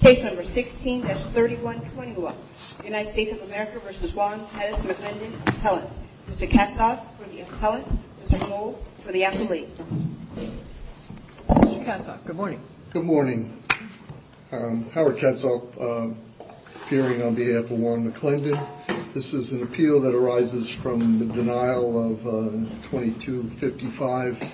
Case number 16-3121, United States of America v. Juan Pettis McLendon Appellant. Mr. Katzhoff for the appellant, Mr. Knoll for the appellate. Mr. Katzhoff, good morning. Good morning. Howard Katzhoff, appearing on behalf of Juan McLendon. This is an appeal that arises from the denial of a 2255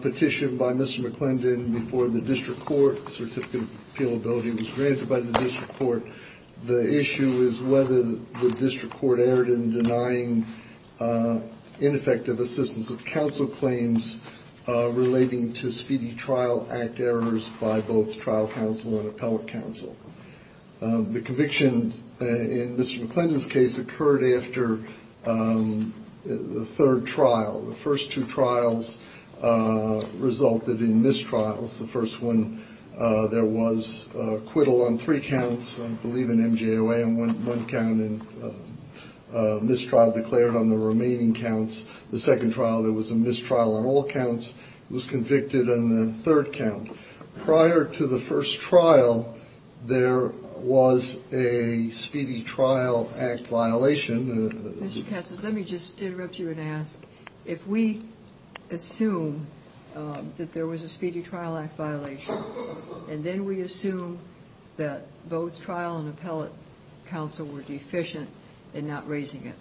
petition by Mr. McLendon before the district court. Certificate of appealability was granted by the district court. The issue is whether the district court erred in denying ineffective assistance of counsel claims relating to speedy trial act errors by both trial counsel and appellate counsel. The conviction in Mr. McLendon's case occurred after the third trial. The first two trials resulted in mistrials. The first one, there was acquittal on three counts, I believe an MJOA on one count and mistrial declared on the remaining counts. The second trial, there was a mistrial on all counts. He was convicted on the third count. Prior to the first trial, there was a speedy trial act violation. Mr. Katzoff, let me just interrupt you and ask, if we assume that there was a speedy trial act violation, and then we assume that both trial and appellate counsel were deficient in not raising it,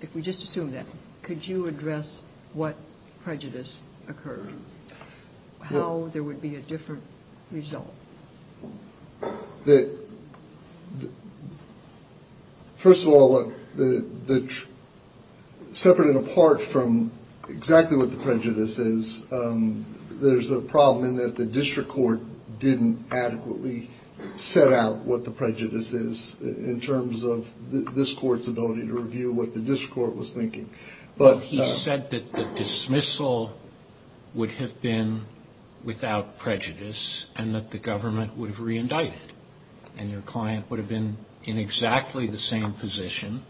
if we just assume that, could you address what prejudice occurred, how there would be a different result? First of all, separate and apart from exactly what the prejudice is, there's a problem in that the district court didn't adequately set out what the prejudice is in terms of this Court's ability to review what the district court was thinking. But he said that the dismissal would have been without prejudice and that the government would have reindicted. And your client would have been in exactly the same position,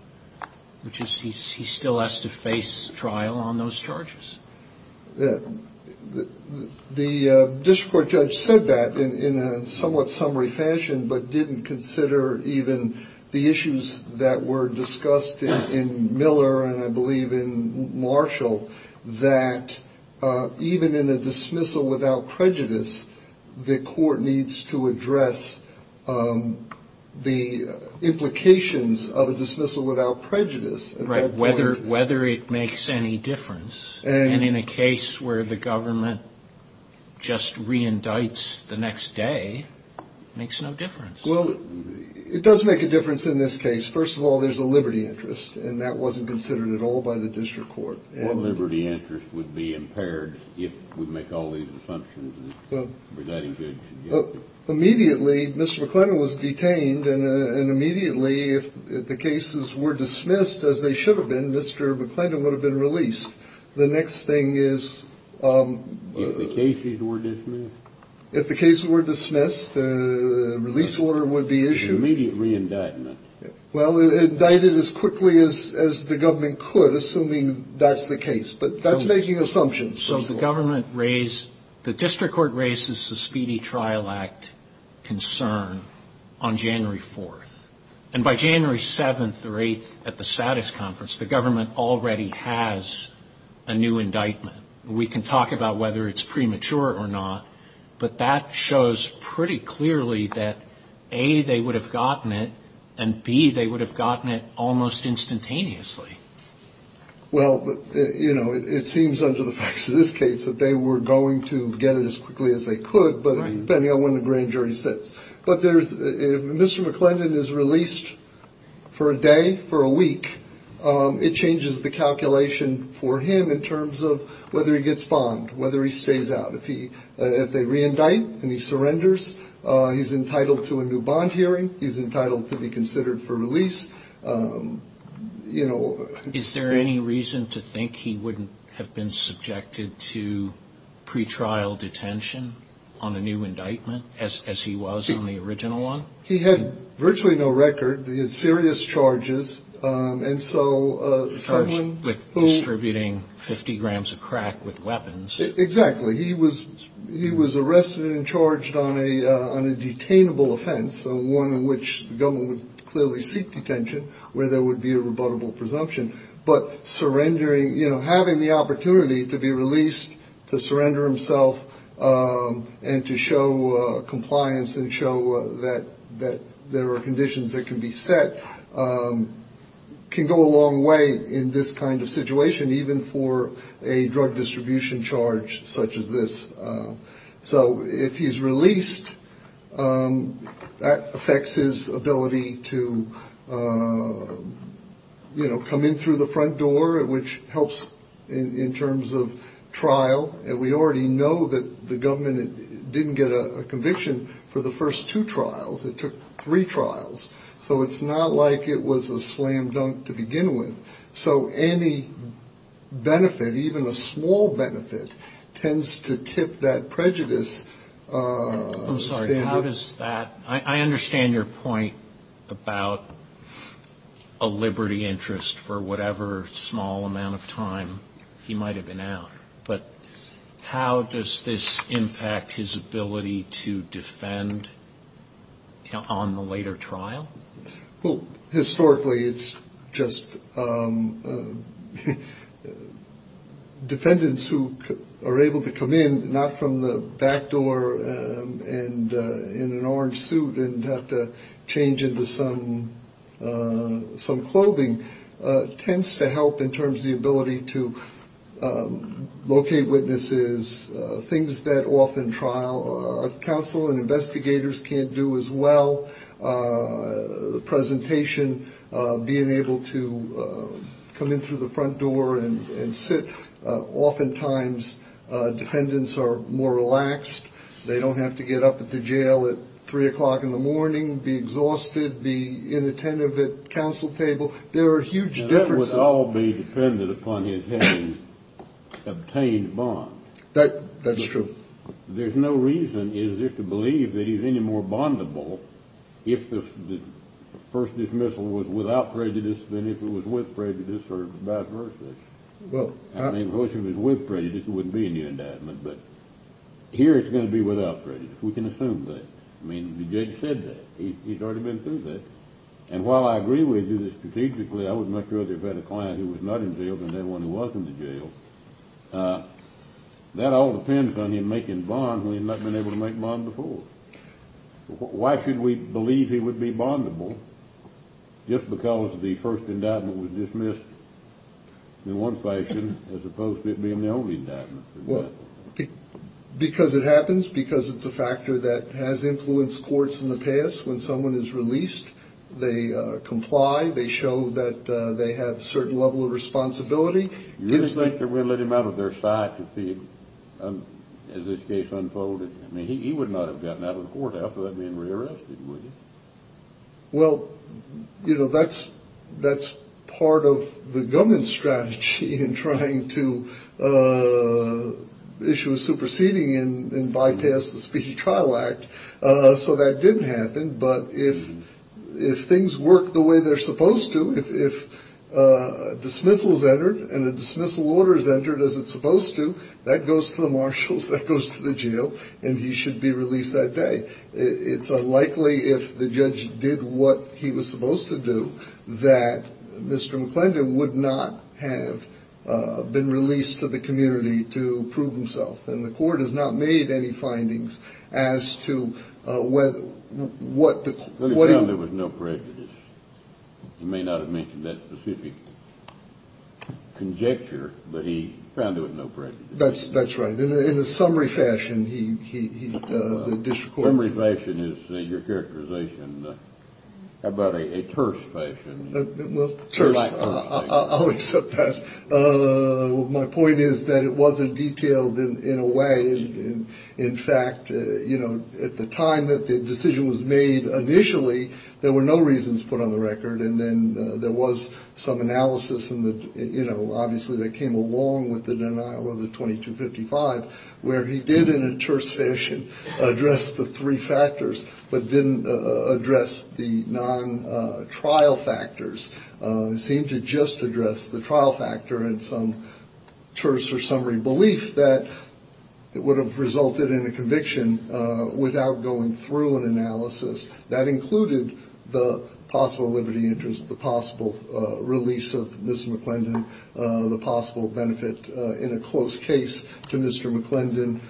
which is he still has to face trial on those charges. The district court judge said that in a somewhat summary fashion, but didn't consider even the issues that were discussed in Miller and I believe in Marshall, that even in a dismissal without prejudice, the Court needs to address the implications of a dismissal without prejudice. Right, whether it makes any difference. And in a case where the government just reindicts the next day, makes no difference. Well, it does make a difference in this case. First of all, there's a liberty interest, and that wasn't considered at all by the district court. Well, liberty interest would be impaired if we make all these assumptions. Immediately, Mr. McClendon was detained. And immediately, if the cases were dismissed as they should have been, Mr. McClendon would have been released. The next thing is... If the cases were dismissed. If the cases were dismissed, a release order would be issued. An immediate reindictment. Well, indicted as quickly as the government could, assuming that's the case. But that's making assumptions. So the district court raises the Speedy Trial Act concern on January 4th. And by January 7th or 8th at the status conference, the government already has a new indictment. We can talk about whether it's premature or not, but that shows pretty clearly that, A, they would have gotten it, and, B, they would have gotten it almost instantaneously. Well, you know, it seems under the facts of this case that they were going to get it as quickly as they could, depending on when the grand jury sits. But if Mr. McClendon is released for a day, for a week, it changes the calculation for him in terms of whether he gets bombed, whether he stays out. If they reindict and he surrenders, he's entitled to a new bond hearing. He's entitled to be considered for release. You know. Is there any reason to think he wouldn't have been subjected to pretrial detention on a new indictment, as he was in the original one? He had virtually no record. He had serious charges. And so someone was distributing 50 grams of crack with weapons. Exactly. He was arrested and charged on a detainable offense, one in which the government would clearly seek detention where there would be a rebuttable presumption. But surrendering, you know, having the opportunity to be released, to surrender himself and to show compliance and show that there are conditions that can be set can go a long way in this kind of situation, even for a drug distribution charge such as this. So if he's released, that affects his ability to, you know, come in through the front door, which helps in terms of trial. And we already know that the government didn't get a conviction for the first two trials. It took three trials. So it's not like it was a slam dunk to begin with. So any benefit, even a small benefit, tends to tip that prejudice standard. I'm sorry. How does that ‑‑ I understand your point about a liberty interest for whatever small amount of time he might have been out. But how does this impact his ability to defend on the later trial? Well, historically it's just defendants who are able to come in, not from the back door and in an orange suit and have to change into some clothing, tends to help in terms of the ability to locate witnesses, things that often trial, counsel and investigators can't do as well, the presentation, being able to come in through the front door and sit. Oftentimes defendants are more relaxed. They don't have to get up at the jail at 3 o'clock in the morning, be exhausted, be inattentive at counsel table. There are huge differences. That would all be dependent upon his having obtained a bond. That's true. There's no reason, is there, to believe that he's any more bondable if the first dismissal was without prejudice than if it was with prejudice or by virtue. I mean, of course, if it was with prejudice, there wouldn't be any indictment. But here it's going to be without prejudice. We can assume that. I mean, the judge said that. He's already been through that. And while I agree with you that strategically, I would much rather have had a client who was not in jail than had one who was in the jail. That all depends on him making bonds when he's not been able to make bonds before. Why should we believe he would be bondable just because the first indictment was dismissed in one fashion as opposed to it being the only indictment? Because it happens, because it's a factor that has influenced courts in the past. When someone is released, they comply. They show that they have a certain level of responsibility. You really think they would have let him out of their sight as this case unfolded? I mean, he would not have gotten out of the courthouse without being rearrested, would he? Well, you know, that's part of the government's strategy in trying to issue a superseding and bypass the Speedy Trial Act. So that didn't happen. But if things work the way they're supposed to, if a dismissal is entered and a dismissal order is entered as it's supposed to, that goes to the marshals, that goes to the jail, and he should be released that day. It's unlikely, if the judge did what he was supposed to do, that Mr. McClendon would not have been released to the community to prove himself. And the court has not made any findings as to whether, what the court. But he found there was no prejudice. He may not have mentioned that specific conjecture, but he found there was no prejudice. That's right. In a summary fashion, he, the district court. Summary fashion is your characterization. How about a terse fashion? Well, I'll accept that. My point is that it wasn't detailed in a way. In fact, you know, at the time that the decision was made initially, there were no reasons put on the record. And then there was some analysis in the, you know, obviously that came along with the denial of the 2255, where he did in a terse fashion address the three factors, but didn't address the non-trial factors. It seemed to just address the trial factor and some terse or summary belief that it would have resulted in a conviction without going through an analysis. That included the possible liberty interest, the possible release of Ms. McClendon, the possible benefit in a close case to Mr. McClendon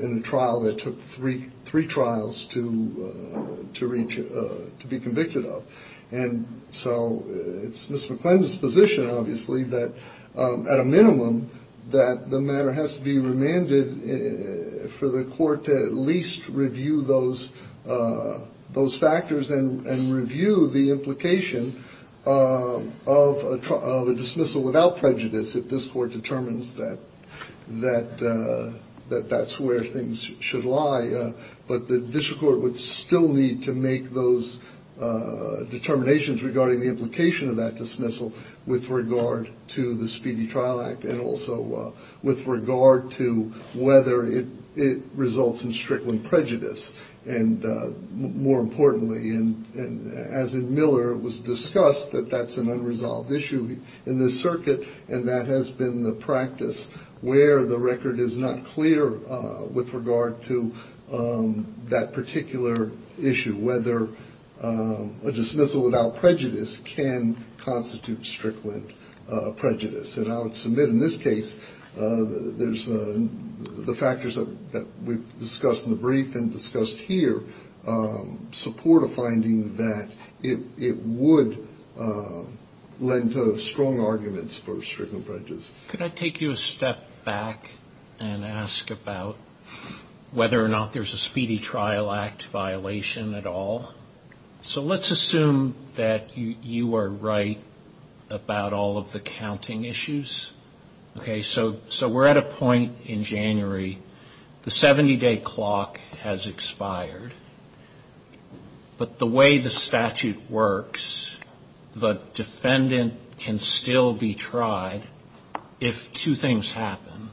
in a trial that took three trials to be convicted of. And so it's Ms. McClendon's position, obviously, that at a minimum, that the matter has to be remanded for the court to at least review those factors and review the implication of a dismissal without prejudice if this court determines that that's where things should lie. But the district court would still need to make those determinations regarding the implication of that dismissal with regard to the Speedy Trial Act and also with regard to whether it results in strickling prejudice. And more importantly, as in Miller, it was discussed that that's an unresolved issue in this circuit, and that has been the practice where the record is not clear with regard to that particular issue, whether a dismissal without prejudice can constitute strickling prejudice. And I would submit in this case the factors that we've discussed in the brief and discussed here support a finding that it would lend to strong arguments for strickling prejudice. Could I take you a step back and ask about whether or not there's a Speedy Trial Act violation at all? So let's assume that you are right about all of the counting issues. So we're at a point in January, the 70-day clock has expired, but the way the statute works, the defendant can still be tried if two things happen.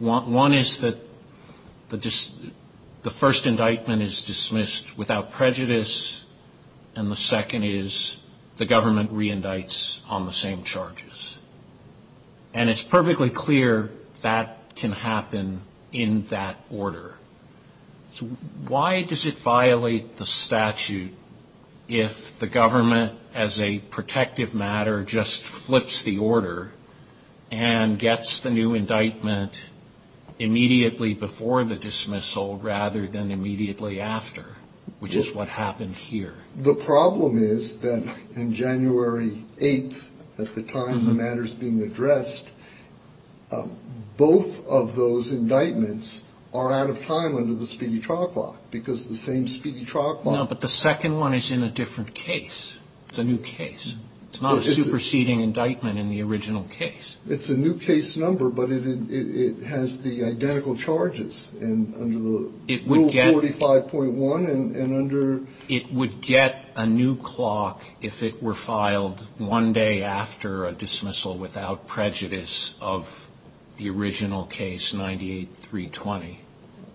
One is that the first indictment is dismissed without prejudice, and the second is the government re-indicts on the same charges. And it's perfectly clear that can happen in that order. Why does it violate the statute if the government, as a protective matter, just flips the order and gets the new indictment immediately before the dismissal rather than immediately after, which is what happened here? The problem is that in January 8th, at the time the matter's being addressed, both of those indictments are out of time under the Speedy Trial Clause, because the same Speedy Trial Clause... No, but the second one is in a different case. It's a new case. It's not a superseding indictment in the original case. It's a new case number, but it has the identical charges under Rule 45.1 and under... It would get a new clock if it were filed one day after a dismissal without prejudice of the original case, 98-320,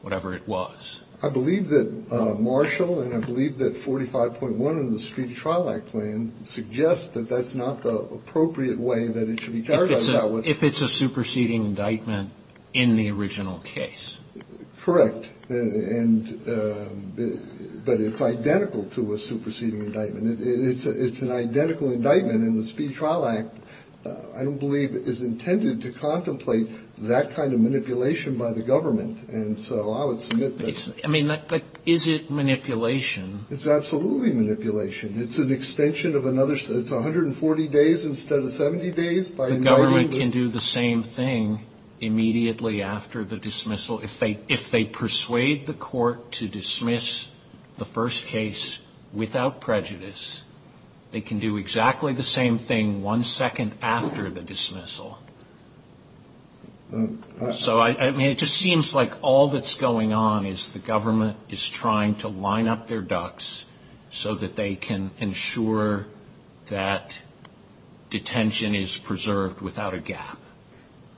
whatever it was. I believe that Marshall and I believe that 45.1 in the Speedy Trial Act plan suggests that that's not the appropriate way that it should be characterized... If it's a superseding indictment in the original case. Correct. But it's identical to a superseding indictment. It's an identical indictment in the Speedy Trial Act, I don't believe, is intended to contemplate that kind of manipulation by the government. And so I would submit that... I mean, is it manipulation? It's absolutely manipulation. It's an extension of another... It's 140 days instead of 70 days by inviting the... The government can do the same thing immediately after the dismissal. If they persuade the court to dismiss the first case without prejudice, they can do exactly the same thing one second after the dismissal. So, I mean, it just seems like all that's going on is the government is trying to line up their ducks so that they can ensure that detention is preserved without a gap.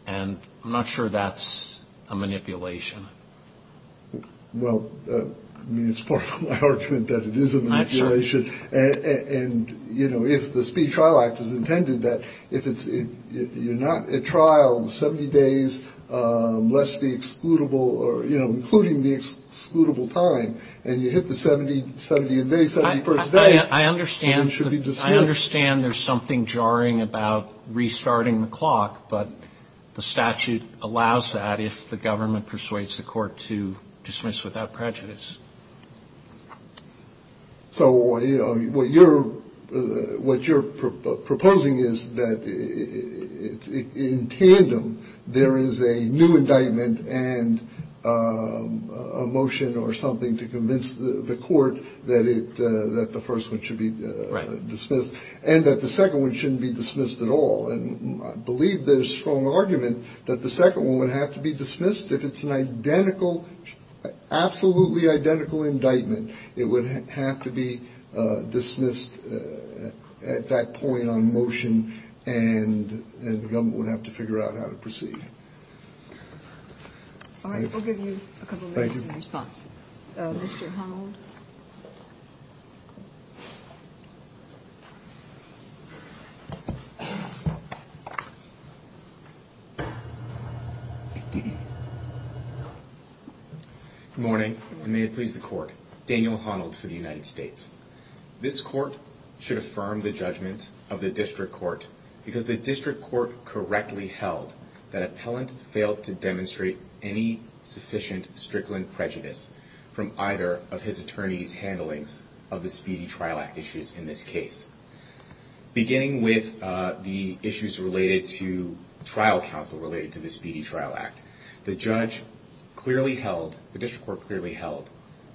And I'm not sure that's a manipulation. Well, I mean, it's part of my argument that it is a manipulation. And, you know, if the Speedy Trial Act is intended that if it's... You're not at trial 70 days less the excludable or, you know, including the excludable time, and you hit the 70th day, 71st day... I understand. It should be dismissed. I understand there's something jarring about restarting the clock. But the statute allows that if the government persuades the court to dismiss without prejudice. So what you're proposing is that in tandem, there is a new indictment and a motion or something to convince the court that the first one should be dismissed. Right. And that the second one shouldn't be dismissed at all. And I believe there's strong argument that the second one would have to be dismissed if it's an identical, absolutely identical indictment. It would have to be dismissed at that point on motion. And the government would have to figure out how to proceed. All right. We'll give you a couple of minutes in response. Thank you. Good morning, and may it please the court. Daniel Honnold for the United States. This court should affirm the judgment of the district court because the district court correctly held that appellant failed to demonstrate any sufficient strickland prejudice from either of his attorney's handlings of the Speedy Trial Act issues in this case. Beginning with the issues related to trial counsel related to the Speedy Trial Act, the judge clearly held, the district court clearly held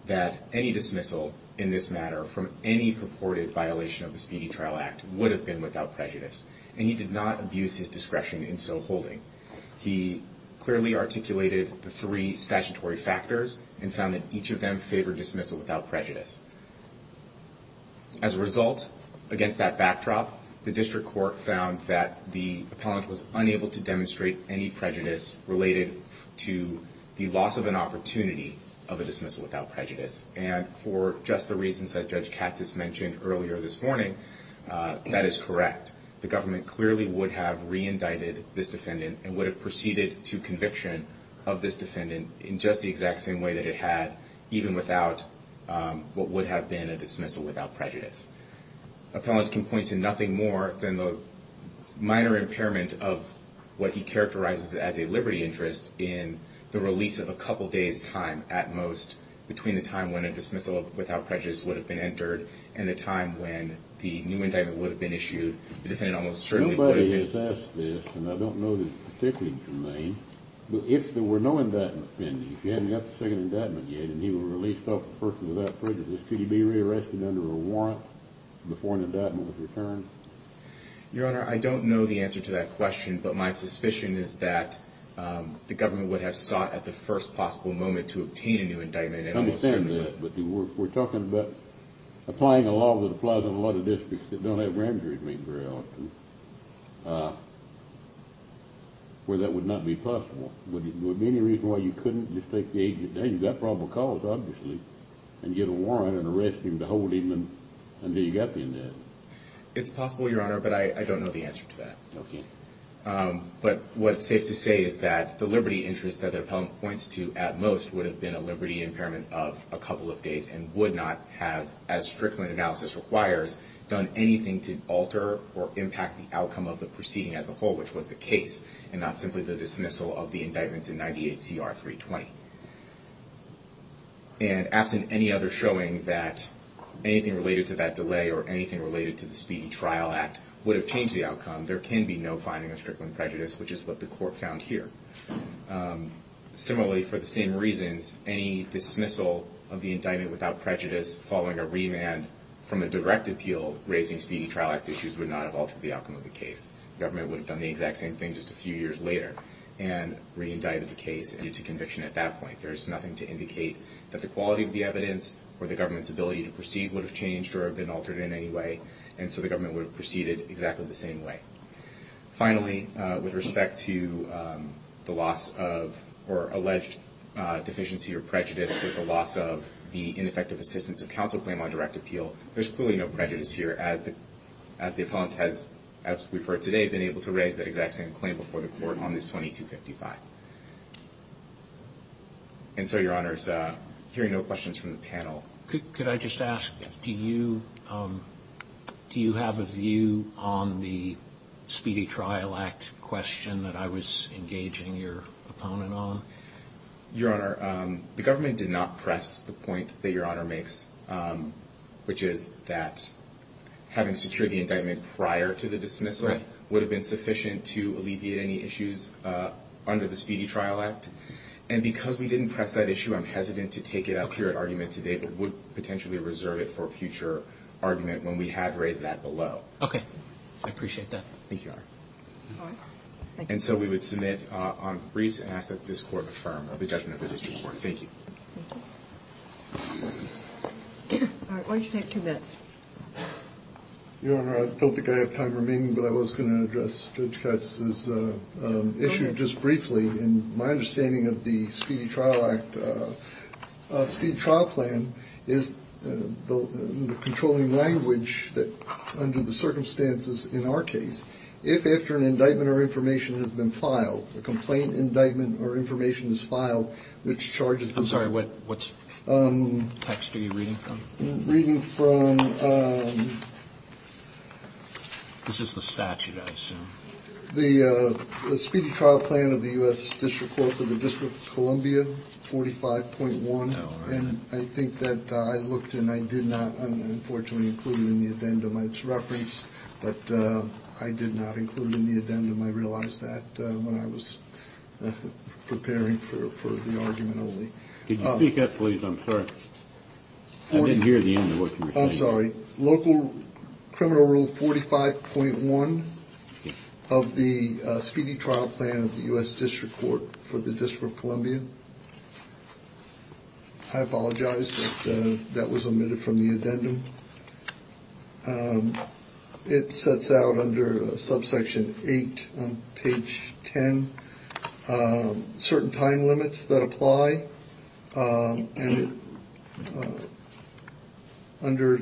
that any dismissal in this matter from any purported violation of the Speedy Trial Act would have been without prejudice. And he did not abuse his discretion in so holding. He clearly articulated the three statutory factors and found that each of them favored dismissal without prejudice. As a result, against that backdrop, the district court found that the appellant was unable to demonstrate any prejudice related to the loss of an opportunity of a dismissal without prejudice. And for just the reasons that Judge Katz has mentioned earlier this morning, that is correct. The government clearly would have re-indicted this defendant and would have proceeded to conviction of this defendant in just the exact same way that it had, even without what would have been a dismissal without prejudice. Appellant can point to nothing more than the minor impairment of what he characterizes as a liberty interest in the release of a couple days time at most between the time when a dismissal without prejudice would have been entered and the time when the new indictment would have been issued. Nobody has asked this, and I don't know that it's particularly germane, but if there were no indictment pending, if you hadn't got the second indictment yet and he were released off the first without prejudice, could he be re-arrested under a warrant before an indictment was returned? Your Honor, I don't know the answer to that question, but my suspicion is that the government would have sought at the first possible moment to obtain a new indictment. I understand that, but we're talking about applying a law that applies in a lot of districts that don't have grand jury meetings very often, where that would not be possible. Would there be any reason why you couldn't just take the agent down, you've got probable cause obviously, and get a warrant and arrest him to hold him until you got the indictment? It's possible, Your Honor, but I don't know the answer to that. Okay. But what's safe to say is that the liberty interest that the appellant points to at most would have been a liberty impairment of a couple of days and would not have, as Strickland analysis requires, done anything to alter or impact the outcome of the proceeding as a whole, which was the case and not simply the dismissal of the indictment in 98CR320. And absent any other showing that anything related to that delay or anything related to the Speedy Trial Act would have changed the outcome, there can be no finding of Strickland prejudice, which is what the court found here. Similarly, for the same reasons, any dismissal of the indictment without prejudice following a remand from a direct appeal raising Speedy Trial Act issues would not have altered the outcome of the case. The government would have done the exact same thing just a few years later and re-indicted the case due to conviction at that point. There's nothing to indicate that the quality of the evidence or the government's ability to proceed would have changed or been altered in any way, and so the government would have proceeded exactly the same way. Finally, with respect to the loss of or alleged deficiency or prejudice with the loss of the ineffective assistance of counsel claim on direct appeal, there's clearly no prejudice here as the appellant has, as we've heard today, been able to raise that exact same claim before the court on this 2255. And so, Your Honors, hearing no questions from the panel. Could I just ask, do you have a view on the Speedy Trial Act question that I was engaging your opponent on? Your Honor, the government did not press the point that Your Honor makes, which is that having secured the indictment prior to the dismissal would have been sufficient to alleviate any issues under the Speedy Trial Act. And because we didn't press that issue, I'm hesitant to take it up here at argument today, but would potentially reserve it for future argument when we have raised that below. Okay. I appreciate that. Thank you, Your Honor. All right. Thank you. And so we would submit on briefs and ask that this Court affirm the judgment of the district court. Thank you. Thank you. All right. Why don't you take two minutes? Your Honor, I don't think I have time remaining, but I was going to address Judge Katz's issue just briefly. In my understanding of the Speedy Trial Act, a speed trial plan is the controlling language that under the circumstances in our case, if after an indictment or information has been filed, a complaint indictment or information is filed, which charges them. I'm sorry, what text are you reading from? I'm reading from the Speedy Trial Plan of the U.S. District Court for the District of Columbia, 45.1. And I think that I looked and I did not, unfortunately, include it in the addendum as reference, but I did not include it in the addendum. I realized that when I was preparing for the argument only. Could you speak up, please? I'm sorry. I didn't hear the end of what you were saying. I'm sorry. Local criminal rule 45.1 of the Speedy Trial Plan of the U.S. District Court for the District of Columbia. I apologize that that was omitted from the addendum. It sets out under subsection eight, page 10, certain time limits that apply. And under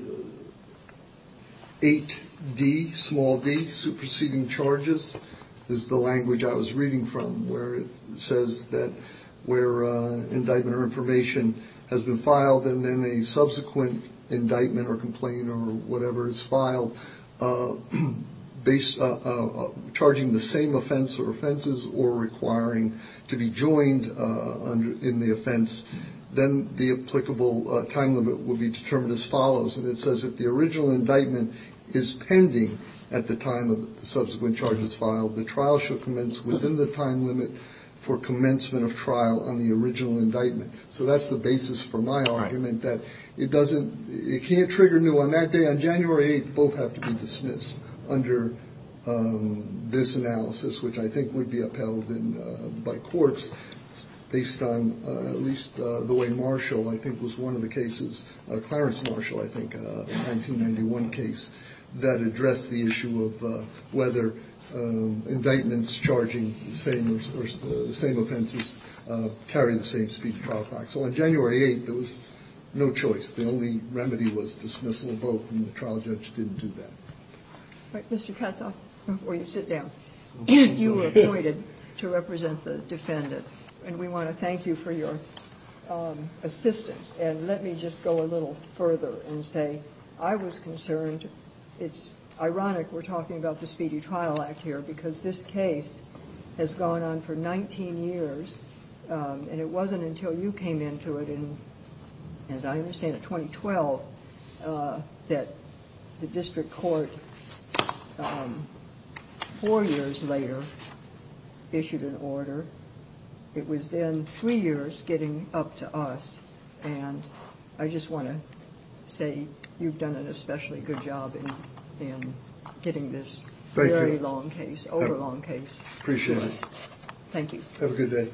8D, small d, superseding charges, is the language I was reading from where it says that where indictment or information has been filed and then a subsequent indictment or complaint or whatever is filed based on charging the same offense or offenses or requiring to be joined in the offense, then the applicable time limit will be determined as follows. And it says if the original indictment is pending at the time of subsequent charges filed, the trial should commence within the time limit for commencement of trial on the original indictment. So that's the basis for my argument that it doesn't it can't trigger new on that day on January 8th. Both have to be dismissed under this analysis, which I think would be upheld by courts based on at least the way Marshall, I think, was one of the cases. Clarence Marshall, I think, a 1991 case that addressed the issue of whether indictments charging the same offenses carry the same speed trial time. So on January 8th, there was no choice. The only remedy was dismissal of both, and the trial judge didn't do that. But, Mr. Katzoff, before you sit down, you were appointed to represent the defendant, and we want to thank you for your assistance. And let me just go a little further and say I was concerned. It's ironic we're talking about the Speedy Trial Act here because this case has gone on for 19 years and it wasn't until you came into it. And as I understand it, 2012, that the district court four years later issued an order. It was then three years getting up to us. And I just want to say you've done an especially good job in getting this very long case, overlong case. Appreciate it. Thank you. Have a good day.